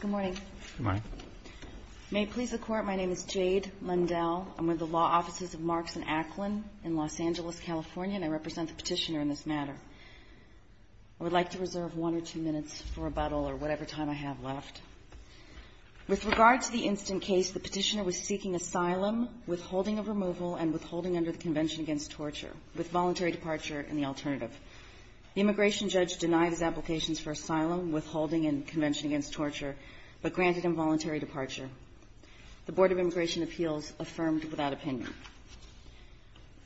Good morning. May it please the Court, my name is Jade Lundell. I'm with the Law Offices of Marks & Acklin in Los Angeles, California, and I represent the Petitioner in this matter. I would like to reserve one or two minutes for rebuttal or whatever time I have left. With regard to the instant case, the Petitioner was seeking asylum, withholding of removal, and withholding under the Convention Against Torture with voluntary departure and the alternative. The immigration judge denied his applications for asylum, withholding in the Convention Against Torture, but granted involuntary departure. The Board of Immigration Appeals affirmed without opinion.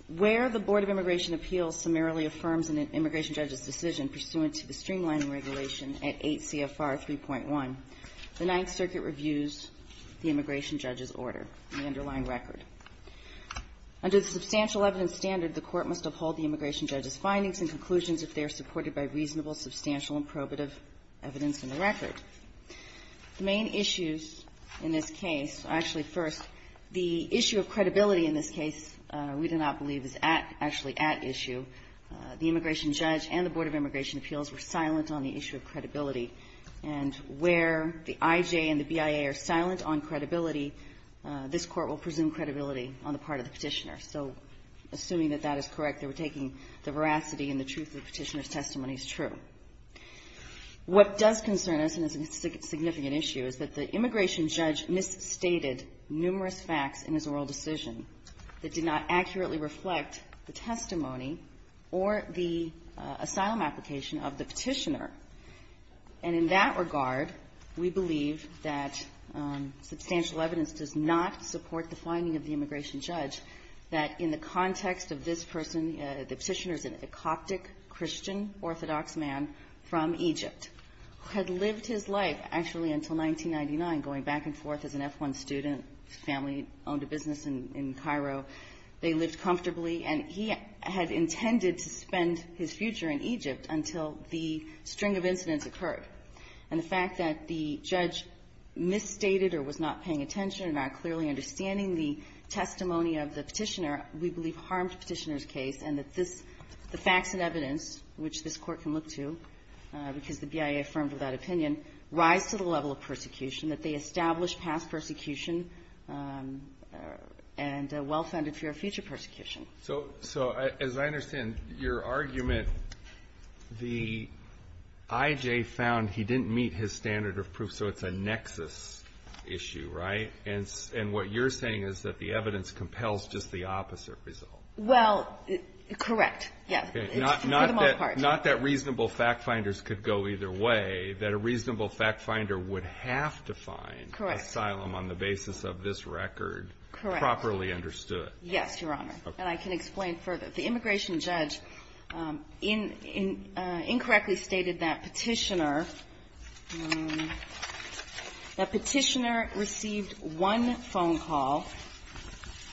Where the Board of Immigration Appeals summarily affirms an immigration judge's decision pursuant to the Streamlining Regulation at 8 CFR 3.1, the Ninth Circuit reviews the immigration judge's order, the underlying record. Under the Substantial Evidence Standard, the Court must uphold the immigration judge's conclusions if they are supported by reasonable, substantial, and probative evidence in the record. The main issues in this case are actually, first, the issue of credibility in this case we do not believe is at actually at issue. The immigration judge and the Board of Immigration Appeals were silent on the issue of credibility. And where the IJ and the BIA are silent on credibility, this Court will presume credibility on the part of the Petitioner. So assuming that that is correct, they were taking the veracity and the truth of the Petitioner's testimony as true. What does concern us, and is a significant issue, is that the immigration judge misstated numerous facts in his oral decision that did not accurately reflect the testimony or the asylum application of the Petitioner. And in that regard, we believe that substantial evidence does not support the finding of the immigration judge that in the context of this person, the Petitioner is a Coptic Christian Orthodox man from Egypt who had lived his life, actually until 1999, going back and forth as an F1 student, family, owned a business in Cairo. They lived comfortably. And he had intended to spend his future in Egypt until the string of incidents occurred. And the fact that the judge misstated or was not paying attention or not clearly understanding the testimony of the Petitioner, we believe harmed the Petitioner's case, and that this, the facts and evidence, which this Court can look to, because the BIA affirmed with that opinion, rise to the level of persecution, that they established past persecution and a well-founded fear of future persecution. So as I understand your argument, the IJ found he didn't meet his standard of proof, so it's a nexus issue, right? And what you're saying is that the evidence compels just the opposite result. Well, correct. Yes. For the most part. Not that reasonable fact-finders could go either way, that a reasonable fact-finder would have to find asylum on the basis of this record properly understood. Yes, Your Honor. And I can explain further. The immigration judge incorrectly stated that Petitioner, that Petitioner received one phone call,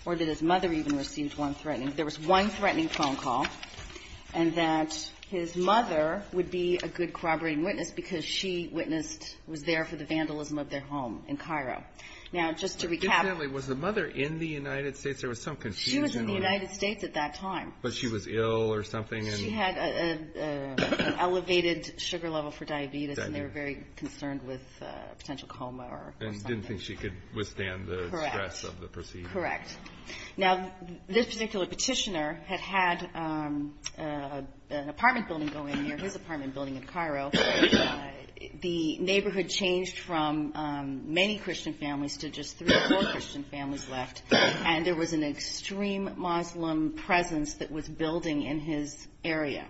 or that his mother even received one threatening, there was one threatening phone call, and that his mother would be a good corroborating witness, because she witnessed, was there for the vandalism of their home in Cairo. Now, just to recap- Incidentally, was the mother in the United States? There was some confusion on- She was in the United States at that time. But she was ill or something, and- She had an elevated sugar level for diabetes, and they were very concerned with a potential coma or something. She didn't think she could withstand the stress of the procedure. Correct. Now, this particular Petitioner had had an apartment building go in near his apartment building in Cairo. The neighborhood changed from many Christian families to just three or four Christian families left, and there was an extreme Muslim presence that was building in his area.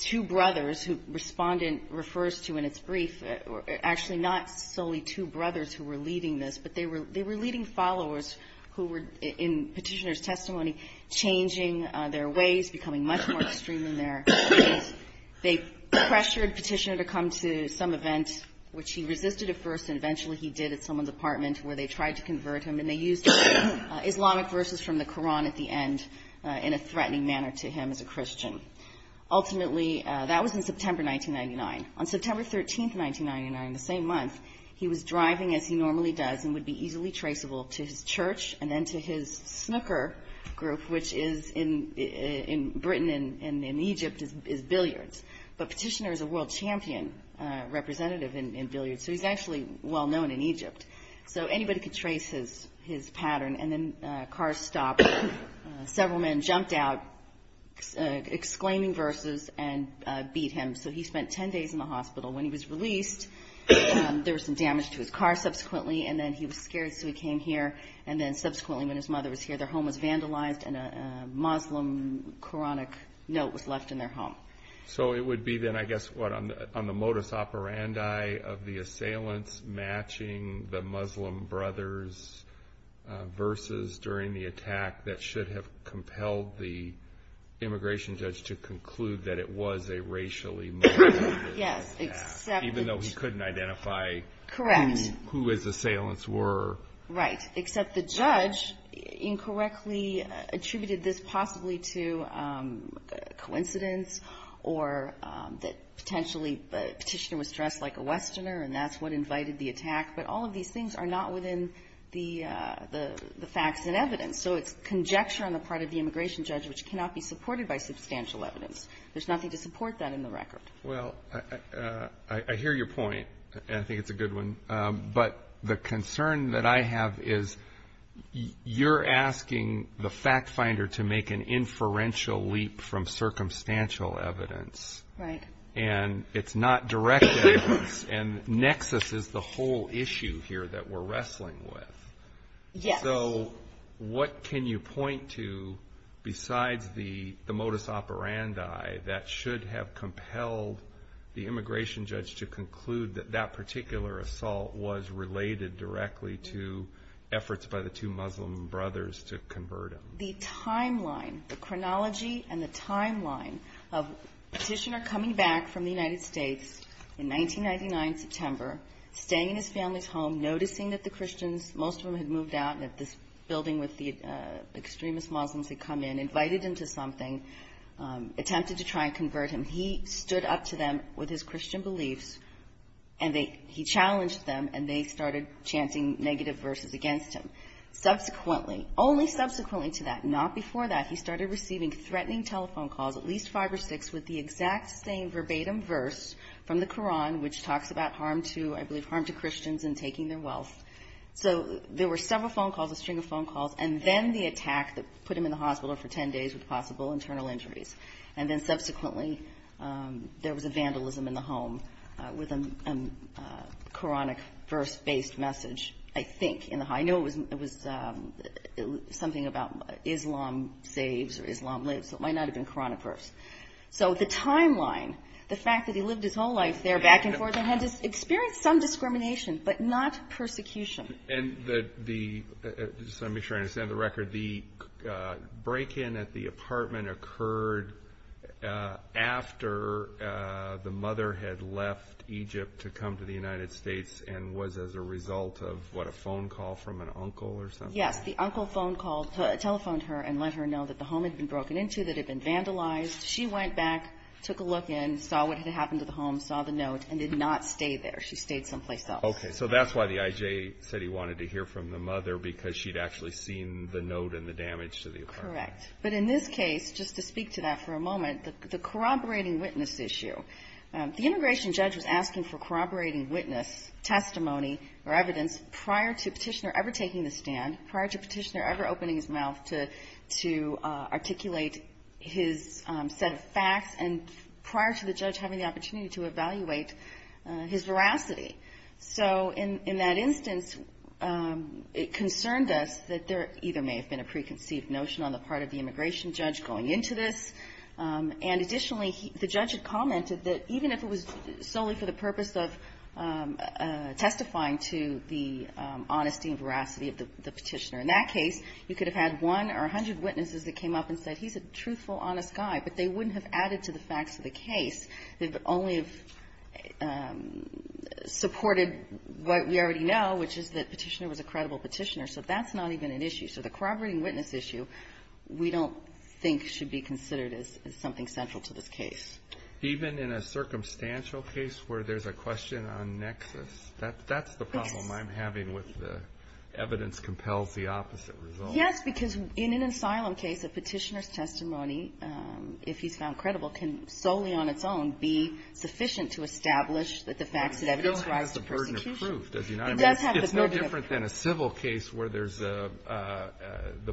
Two brothers, who Respondent refers to in its brief, actually not solely two brothers who were leading this, but they were leading followers who were, in Petitioner's testimony, changing their ways, becoming much more extreme in their ways. They pressured Petitioner to come to some event, which he resisted at first, and eventually he did at someone's apartment, where they tried to convert him, and they used Islamic verses from the Quran at the end in a threatening manner to him as a Christian. Ultimately, that was in September 1999. On September 13th, 1999, the same month, he was driving as he normally does and would be easily traceable to his church and then to his snooker group, which is in Britain and in Egypt is Billiards. But Petitioner is a world champion representative in Billiards, so he's actually well-known in Egypt. So anybody could trace his pattern, and then cars stopped. Several men jumped out, exclaiming verses, and beat him. So he spent 10 days in the hospital. When he was released, there was some damage to his car subsequently, and then he was scared, so he came here. And then subsequently, when his mother was here, their home was vandalized, and a Muslim Quranic note was left in their home. So it would be then, I guess, what on the modus operandi of the assailants matching the Muslim brothers' verses during the attack that should have compelled the immigration judge to conclude that it was a racially motivated attack, even though he couldn't identify who his assailants were. Right, except the judge incorrectly attributed this possibly to coincidence, or that potentially Petitioner was dressed like a Muslim, or that he was part of the attack, but all of these things are not within the facts and evidence. So it's conjecture on the part of the immigration judge, which cannot be supported by substantial evidence. There's nothing to support that in the record. Well, I hear your point, and I think it's a good one. But the concern that I have is, you're asking the fact finder to make an inferential leap from circumstantial evidence. Right. And it's not direct evidence, and nexus is the whole issue here that we're wrestling with. Yes. So what can you point to besides the modus operandi that should have compelled the immigration judge to conclude that that particular assault was related directly to efforts by the two Muslim brothers to convert him? The timeline, the chronology and the timeline of Petitioner coming back from the United States in 1999, September, staying in his family's home, noticing that the Christians, most of them had moved out, and that this building with the extremist Muslims had come in, invited him to something, attempted to try and convert him. He stood up to them with his Christian beliefs, and he challenged them, and they started chanting negative verses against him. Subsequently, only subsequently to that, not before that, he started receiving threatening telephone calls, at least five or six, with the exact same verbatim verse from the Quran, which talks about harm to, I believe, harm to Christians and taking their wealth. So there were several phone calls, a string of phone calls, and then the attack that put him in the hospital for 10 days with possible internal injuries. And then subsequently, there was a vandalism in the home with a Quranic verse-based message, I think. I know it was something about Islam saves or Islam lives, so it might not have been Quranic verse. So the timeline, the fact that he lived his whole life there, back and forth, and had experienced some discrimination, but not persecution. And the, just to make sure I understand the record, the break-in at the apartment occurred after the mother had left Egypt to come to the United States and was as a result of a phone call from an uncle or something? Yes, the uncle telephoned her and let her know that the home had been broken into, that it had been vandalized. She went back, took a look in, saw what had happened to the home, saw the note, and did not stay there. She stayed someplace else. Okay, so that's why the IJ said he wanted to hear from the mother, because she'd actually seen the note and the damage to the apartment. Correct. But in this case, just to speak to that for a moment, the corroborating witness issue, the immigration judge was asking for corroborating witness, testimony, or evidence prior to Petitioner ever taking the stand, prior to Petitioner ever opening his mouth to articulate his set of facts, and prior to the judge having the opportunity to evaluate his veracity. So in that instance, it concerned us that there either may have been a preconceived notion on the part of the immigration judge going into this, and additionally, the judge had commented that even if it was solely for the purpose of testifying to the honesty and veracity of the Petitioner, in that case, you could have had one or a hundred witnesses that came up and said, he's a truthful, honest guy, but they wouldn't have added to the facts of the case. They'd only have supported what we already know, which is that Petitioner was a credible Petitioner. So that's not even an issue. So the corroborating witness issue we don't think should be considered as something central to this case. Even in a circumstantial case where there's a question on nexus, that's the problem I'm having with the evidence compels the opposite result. Yes, because in an asylum case, a Petitioner's testimony, if he's found credible, can solely on its own be sufficient to establish that the facts and evidence rise to persecution. It still has the burden of proof. It does have the burden of proof. It's no different than a civil case where the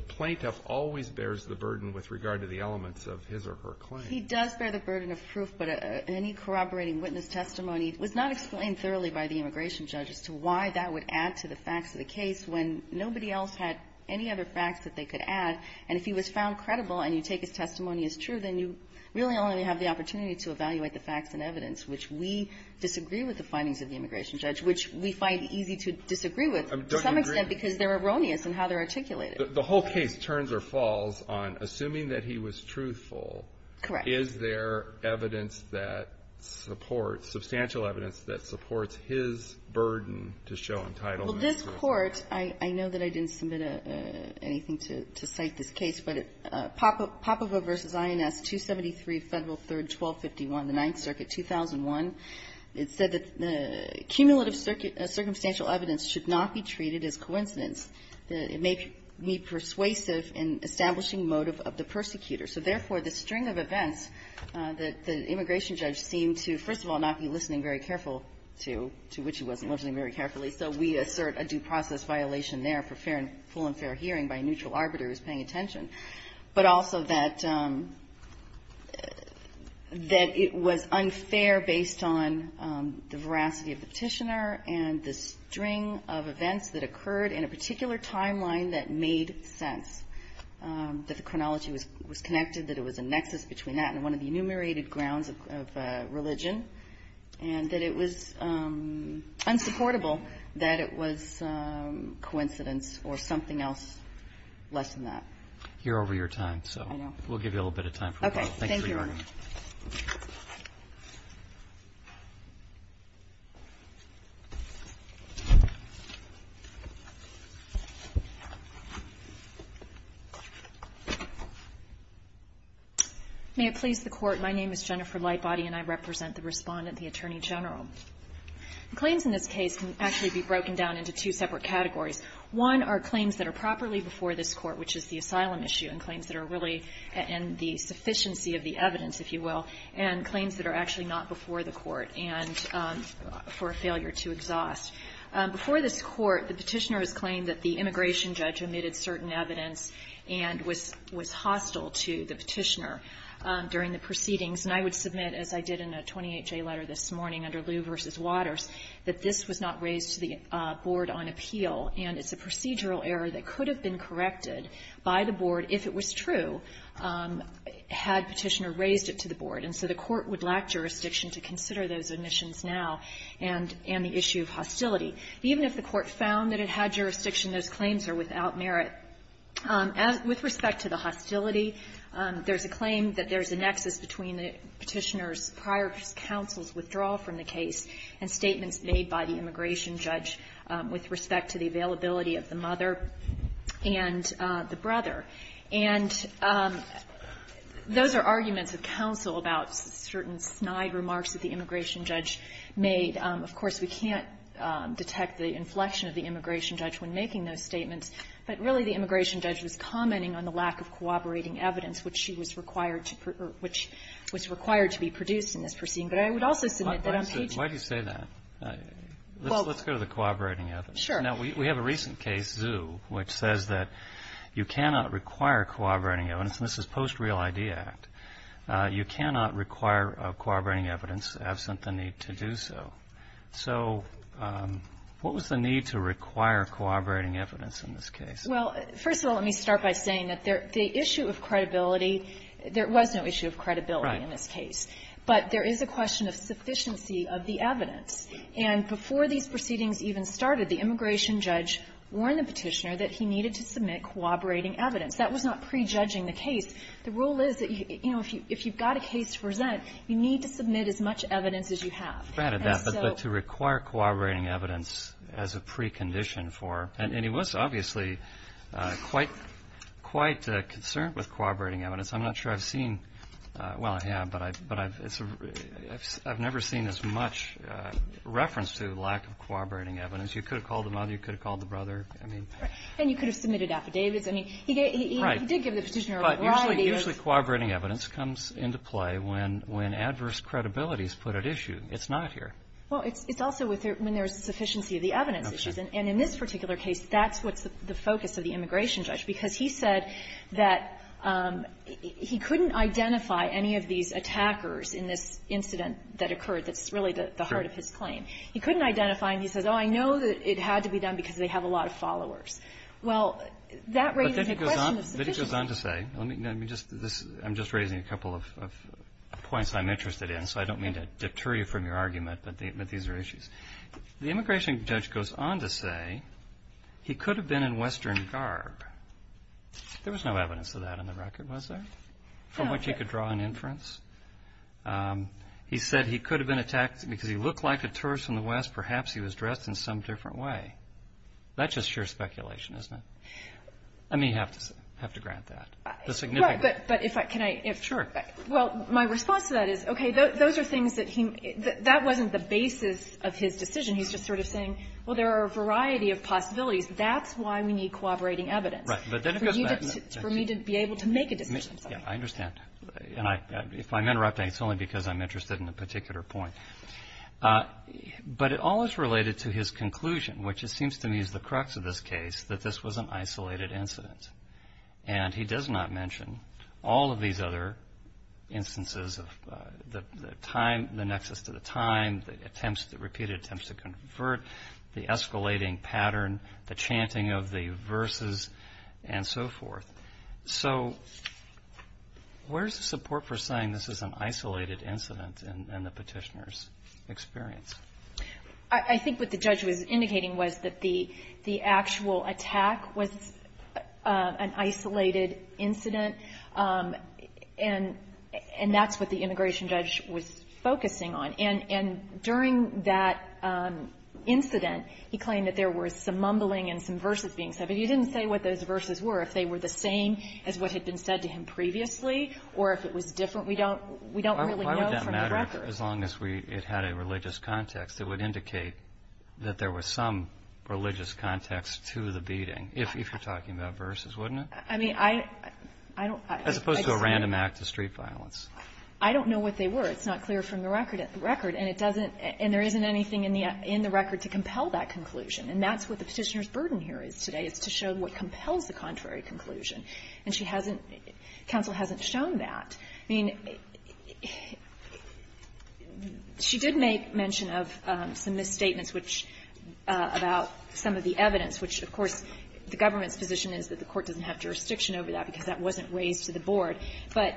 plaintiff always bears the burden with regard to the elements of his or her claim. He does bear the burden of proof, but any corroborating witness testimony was not explained thoroughly by the immigration judge as to why that would add to the facts of the case when nobody else had any other facts that they could add. And if he was found credible and you take his testimony as true, then you really only have the opportunity to evaluate the facts and evidence, which we disagree with the findings of the immigration judge, which we find easy to disagree with to some extent because they're erroneous in how they're articulated. The whole case turns or falls on assuming that he was truthful. Correct. Is there evidence that supports, substantial evidence that supports his burden to show entitlement? Well, this Court, I know that I didn't submit anything to cite this case, but Popova v. INS 273 Federal 3rd 1251, the 9th Circuit, 2001, it said that the cumulative circumstantial evidence should not be treated as coincidence. It may be persuasive in establishing motive of the persecutor. So, therefore, the string of events that the immigration judge seemed to, first of all, not be listening very careful to, to which he wasn't listening very carefully. So, we assert a due process violation there for fair and full and fair hearing by a neutral arbiter who's paying attention, but also that it was unfair based on the veracity of the petitioner and the string of events that occurred in a particular timeline that made sense, that the chronology was connected, that it was a nexus between that and one of the enumerated grounds of religion, and that it was unsupportable that it was coincidence or something else less than that. You're over your time, so we'll give you a little bit of time. Okay, thank you, Your Honor. May it please the Court, my name is Jennifer Lightbody, and I represent the Respondent, the Attorney General. Claims in this case can actually be broken down into two separate categories. One are claims that are properly before this Court, which is the asylum issue, and claims that are really in the sufficiency of the evidence, if you will, and claims that are actually not before the Court and for a failure to exhaust. Before this Court, the petitioner has claimed that the immigration judge omitted certain evidence and was hostile to the petitioner during the proceedings. And I would submit, as I did in a 28-J letter this morning under Lew v. Waters, that this was not raised to the board on appeal, and it's a procedural error that could have been corrected by the board if it was true had Petitioner raised it to the board, and so the Court would lack jurisdiction to consider those omissions now, and the issue of hostility. Even if the Court found that it had jurisdiction, those claims are without merit. With respect to the hostility, there's a claim that there's a nexus between the petitioner's prior counsel's withdrawal from the case and statements made by the immigration judge with respect to the availability of the mother and the brother. And those are arguments of counsel about certain snide remarks that the immigration judge made. Of course, we can't detect the inflection of the immigration judge when making those statements, but really the immigration judge was commenting on the lack of cooperating evidence which she was required to be produced in this proceeding. But I would also submit that on page one. Kennedy, why do you say that? Let's go to the cooperating evidence. Now, we have a recent case, Zhu, which says that you cannot require cooperating evidence, and this is post-Real ID Act, you cannot require cooperating evidence absent the need to do so. So what was the need to require cooperating evidence in this case? Well, first of all, let me start by saying that the issue of credibility, there was no issue of credibility in this case. But there is a question of sufficiency of the evidence. And before these proceedings even started, the immigration judge warned the petitioner that he needed to submit cooperating evidence. That was not prejudging the case. The rule is that, you know, if you've got a case to present, you need to submit as much evidence as you have. Granted that, but to require cooperating evidence as a precondition for, and he was obviously quite concerned with cooperating evidence. I'm not sure I've seen, well, I have, but I've never seen as much reference to lack of cooperating evidence. You could have called the mother, you could have called the brother, I mean. And you could have submitted affidavits. I mean, he did give the petitioner a variety of. But usually cooperating evidence comes into play when adverse credibility is put at issue. It's not here. Well, it's also when there's sufficiency of the evidence issues. And in this particular case, that's what's the focus of the immigration judge. Because he said that he couldn't identify any of these attackers in this incident that occurred that's really the heart of his claim. He couldn't identify, and he says, oh, I know that it had to be done because they have a lot of followers. Well, that raises a question of sufficiency. But it goes on to say, I'm just raising a couple of points I'm interested in. So I don't mean to deter you from your argument, but these are issues. The immigration judge goes on to say he could have been in Western garb. There was no evidence of that on the record, was there? From which he could draw an inference? He said he could have been attacked because he looked like a tourist from the West, perhaps he was dressed in some different way. That's just sheer speculation, isn't it? I mean, you have to grant that, the significance. But if I, can I, if. Sure. Well, my response to that is, okay, those are things that he, that wasn't the basis of his decision. He's just sort of saying, well, there are a variety of possibilities. That's why we need cooperating evidence. Right, but then it goes back. For me to be able to make a decision. Yeah, I understand. And I, if I'm interrupting, it's only because I'm interested in a particular point. But it all is related to his conclusion, which it seems to me is the crux of this case, that this was an isolated incident. And he does not mention all of these other instances of the time, the nexus to the time, the attempts, the repeated attempts to convert, the escalating pattern, the chanting of the verses, and so forth. So where's the support for saying this is an isolated incident in the Petitioner's experience? I think what the judge was indicating was that the actual attack was an isolated incident. And that's what the immigration judge was focusing on. And during that incident, he claimed that there were some mumbling and some verses being said. But he didn't say what those verses were, if they were the same as what had been said to him previously, or if it was different. We don't really know from the record. Why would that matter as long as it had a religious context? It would indicate that there was some religious context to the beating, if you're talking about verses, wouldn't it? I mean, I don't. As opposed to a random act of street violence. I don't know what they were. It's not clear from the record. And it doesn't, and there isn't anything in the record to compel that conclusion. And that's what the Petitioner's burden here is today. It's to show what compels the contrary conclusion. And she hasn't, counsel hasn't shown that. I mean, she did make mention of some misstatements, which, about some of the evidence, which, of course, the government's position is that the court doesn't have jurisdiction over that because that wasn't raised to the board. But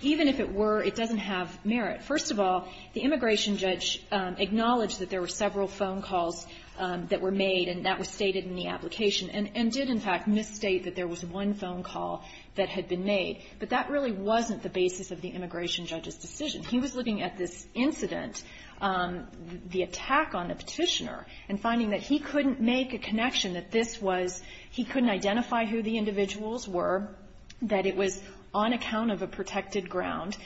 even if it were, it doesn't have merit. First of all, the immigration judge acknowledged that there were several phone calls that were made, and that was stated in the application, and did, in fact, misstate that there was one phone call that had been made. But that really wasn't the basis of the immigration judge's decision. He was looking at this incident, the attack on the Petitioner, and finding that he couldn't make a connection, that this was he couldn't identify who the individuals were, that it was on account of a protected ground.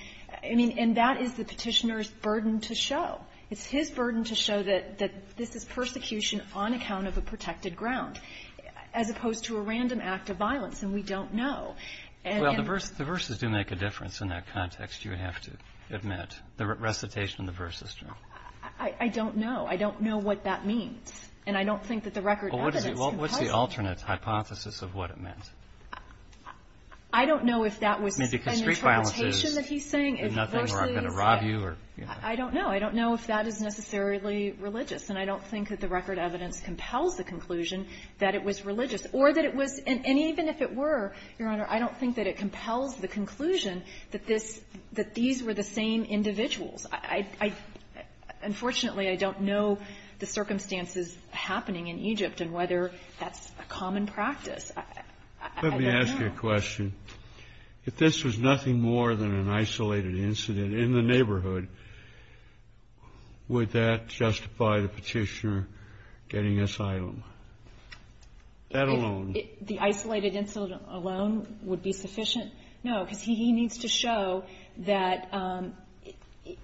I mean, and that is the Petitioner's burden to show. It's his burden to show that this is persecution on account of a protected ground, as opposed to a random act of violence, and we don't know. And then the verses do make a difference in that context, you have to admit. The recitation of the verse is true. I don't know. I don't know what that means. And I don't think that the record evidence can tell you that. Well, what's the alternate hypothesis of what it meant? I don't know if that was an interpretation that he's saying, is the verses that, I don't know. I don't know if that is necessarily religious. And I don't think that the record evidence compels the conclusion that it was religious. Or that it was, and even if it were, Your Honor, I don't think that it compels the conclusion that this, that these were the same individuals. I, unfortunately, I don't know the circumstances happening in Egypt and whether that's a common practice. I don't know. Your question, if this was nothing more than an isolated incident in the neighborhood, would that justify the petitioner getting asylum, that alone? The isolated incident alone would be sufficient? No, because he needs to show that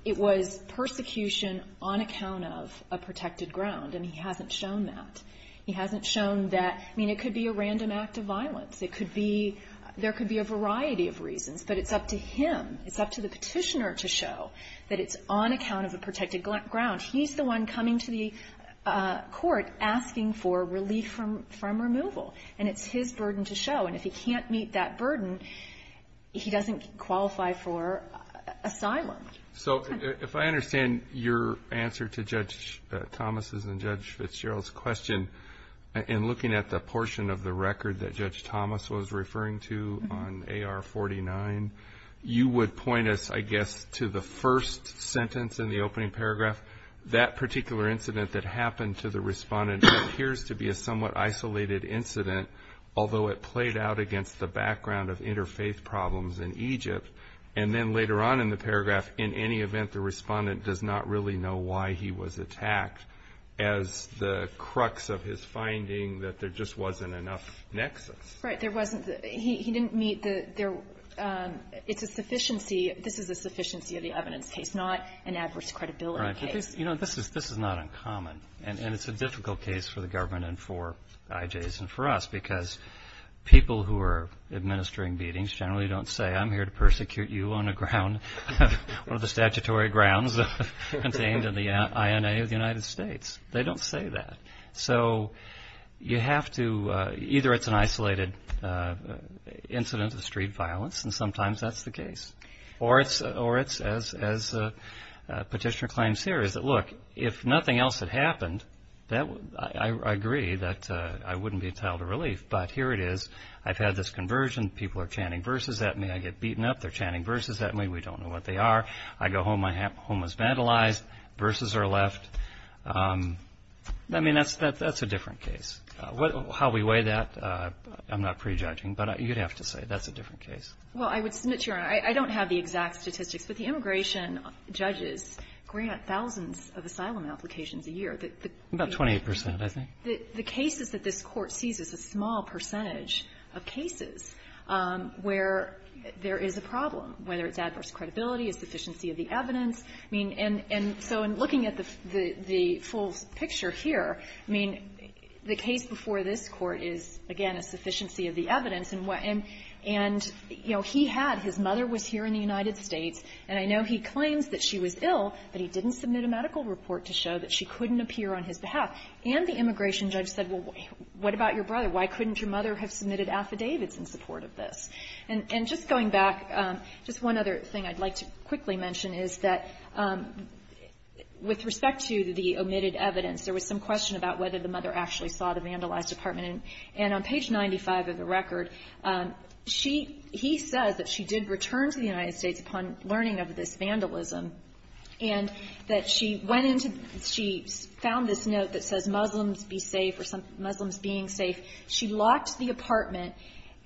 it was persecution on account of a protected ground. And he hasn't shown that. He hasn't shown that, I mean, it could be a random act of violence. It could be, there could be a variety of reasons. But it's up to him. It's up to the petitioner to show that it's on account of a protected ground. He's the one coming to the court asking for relief from removal. And it's his burden to show. And if he can't meet that burden, he doesn't qualify for asylum. So, if I understand your answer to Judge Thomas' and Judge Fitzgerald's question. In looking at the portion of the record that Judge Thomas was referring to on AR-49, you would point us, I guess, to the first sentence in the opening paragraph, that particular incident that happened to the respondent appears to be a somewhat isolated incident, although it played out against the background of interfaith problems in Egypt. And then later on in the paragraph, in any event, the respondent does not really know why he was attacked as the crux of his finding that there just wasn't enough nexus. Right. There wasn't. He didn't meet the, it's a sufficiency, this is a sufficiency of the evidence case, not an adverse credibility case. You know, this is not uncommon. And it's a difficult case for the government and for IJs and for us. Because people who are administering beatings generally don't say, I'm here to persecute you on a ground, one of the statutory grounds contained in the INA of the United States. They don't say that. So you have to, either it's an isolated incident of street violence, and sometimes that's the case. Or it's, as Petitioner claims here, is that, look, if nothing else had happened, I agree that I wouldn't be entitled to relief. But here it is. I've had this conversion. People are chanting verses at me. I get beaten up. They're chanting verses at me. We don't know what they are. I go home, my home is vandalized. Verses are left. I mean, that's a different case. How we weigh that, I'm not prejudging, but you'd have to say that's a different case. Well, I would submit, Your Honor, I don't have the exact statistics, but the immigration judges grant thousands of asylum applications a year. About 28 percent, I think. The cases that this Court sees is a small percentage of cases where there is a problem, whether it's adverse credibility, a sufficiency of the evidence. I mean, and so in looking at the full picture here, I mean, the case before this Court is, again, a sufficiency of the evidence. And what he had, his mother was here in the United States, and I know he claims that she was ill, but he didn't submit a medical report to show that she couldn't appear on his behalf. And the immigration judge said, well, what about your brother? Why couldn't your mother have submitted affidavits in support of this? And just going back, just one other thing I'd like to quickly mention is that with respect to the omitted evidence, there was some question about whether the mother actually saw the vandalized apartment. And on page 95 of the record, she he says that she did return to the United States upon learning of this vandalism, and that she went into, she found this note that says, Muslims be safe, or Muslims being safe. She locked the apartment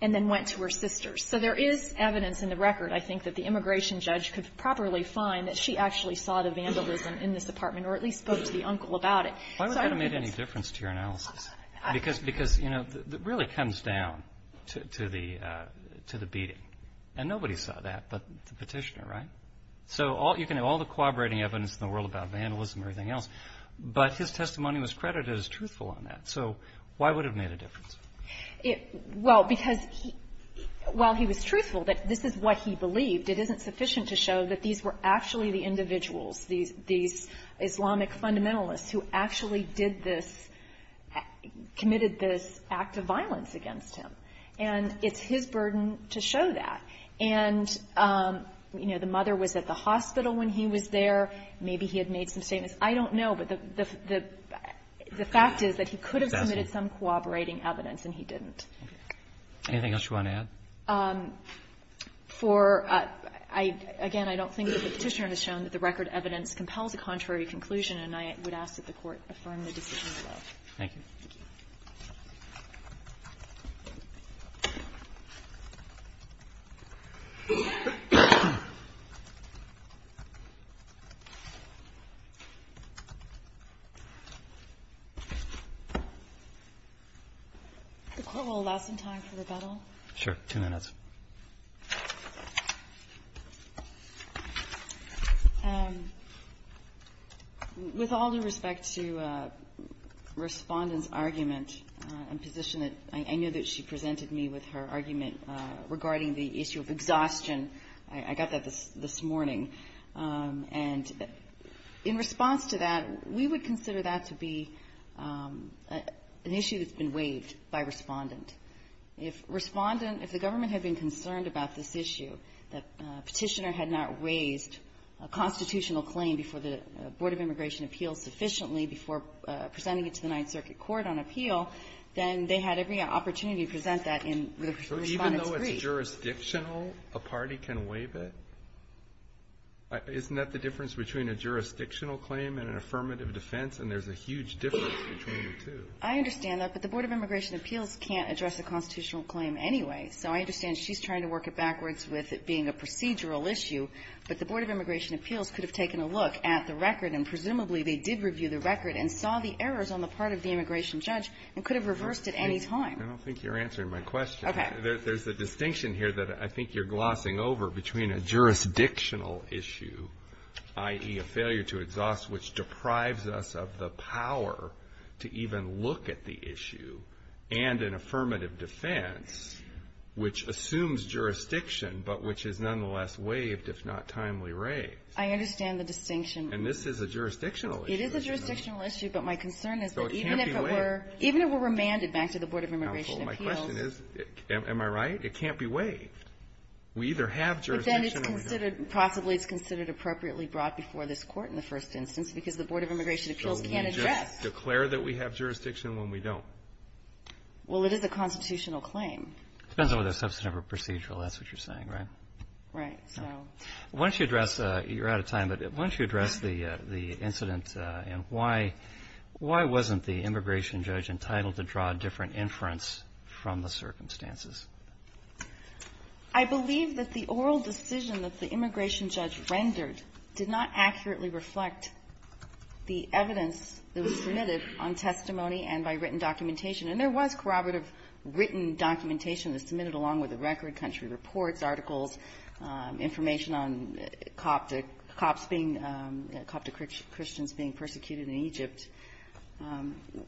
and then went to her sister's. So there is evidence in the record, I think, that the immigration judge could properly find that she actually saw the vandalism in this apartment, or at least spoke to the uncle So I don't know if that's the case. Roberts. Why would that have made any difference to your analysis? Because, you know, it really comes down to the beating. And nobody saw that but the petitioner, right? So you can have all the corroborating evidence in the world about vandalism and everything else, but his testimony was credited as truthful on that. So why would it have made a difference? Well, because while he was truthful that this is what he believed, it isn't sufficient to show that these were actually the individuals, these Islamic fundamentalists who actually did this, committed this act of violence against him. And it's his burden to show that. And, you know, the mother was at the hospital when he was there. Maybe he had made some statements. I don't know. But the fact is that he could have committed some corroborating evidence, and he didn't. Anything else you want to add? For, again, I don't think the petitioner has shown that the record evidence compels a contrary conclusion, and I would ask that the Court affirm the decision below. Thank you. The Court will allow some time for rebuttal. Sure. Two minutes. With all due respect to Respondent's argument and position, I know that she presented me with her argument regarding the issue of exhaustion. I got that this morning. And in response to that, we would consider that to be an issue that's been waived by Respondent. If Respondent, if the government had been concerned about this issue, that Petitioner had not raised a constitutional claim before the Board of Immigration Appeals sufficiently before presenting it to the Ninth Circuit Court on appeal, then they had every opportunity to present that in Respondent's brief. So even though it's jurisdictional, a party can waive it? Isn't that the difference between a jurisdictional claim and an affirmative defense? And there's a huge difference between the two. I understand that. But the Board of Immigration Appeals can't address a constitutional claim anyway. So I understand she's trying to work it backwards with it being a procedural issue. But the Board of Immigration Appeals could have taken a look at the record. And presumably, they did review the record and saw the errors on the part of the immigration judge, and could have reversed it at any time. I don't think you're answering my question. Okay. There's a distinction here that I think you're glossing over between a jurisdictional issue, i.e., a failure to exhaust which deprives us of the power to even look at the issue, and an affirmative defense which assumes jurisdiction, but which is nonetheless waived, if not timely raised. I understand the distinction. And this is a jurisdictional issue. It is a jurisdictional issue. But my concern is that even if it were remanded back to the Board of Immigration Appeals My question is, am I right? It can't be waived. We either have jurisdiction or we don't. Possibly it's considered appropriately brought before this Court in the first instance because the Board of Immigration Appeals can't address. So we just declare that we have jurisdiction when we don't. Well, it is a constitutional claim. It depends on whether it's substantive or procedural. That's what you're saying, right? Right. So why don't you address, you're out of time, but why don't you address the incident and why wasn't the immigration judge entitled to draw a different inference from the circumstances? I believe that the oral decision that the immigration judge rendered did not accurately reflect the evidence that was submitted on testimony and by written documentation. And there was corroborative written documentation that was submitted along with the record, country reports, articles, information on cops being cop to Christians being persecuted in Egypt.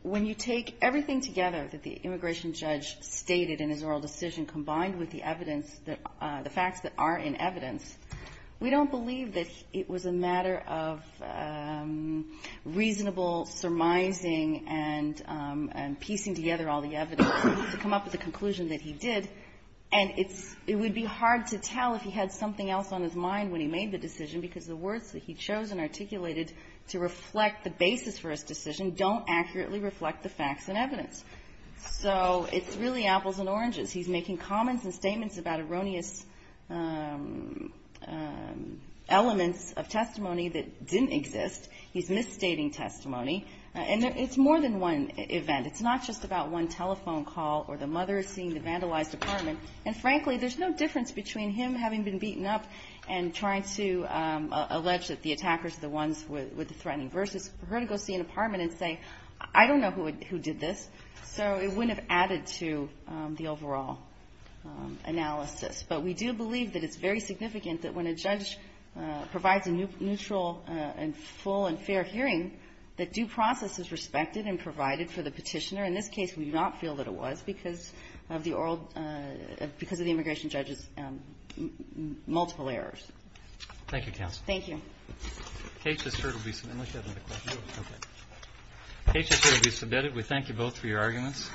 When you take everything together that the immigration judge stated in his oral decision combined with the evidence, the facts that are in evidence, we don't believe that it was a matter of reasonable surmising and piecing together all the evidence to come up with a conclusion that he did. And it's – it would be hard to tell if he had something else on his mind when he made the decision because the words that he chose and articulated to reflect the basis for his decision don't accurately reflect the facts and evidence. So it's really apples and oranges. He's making comments and statements about erroneous elements of testimony that didn't exist. He's misstating testimony. And it's more than one event. It's not just about one telephone call or the mother seeing the vandalized apartment. And frankly, there's no difference between him having been beaten up and trying to allege that the attackers are the ones with the threatening verses, for her to go see an apartment and say, I don't know who did this. So it wouldn't have added to the overall analysis. But we do believe that it's very significant that when a judge provides a neutral and full and fair hearing, that due process is respected and provided for the petitioner. In this case, we do not feel that it was because of the immigration judge's multiple errors. Thank you, counsel. Thank you. The case is heard. We thank you both for your arguments.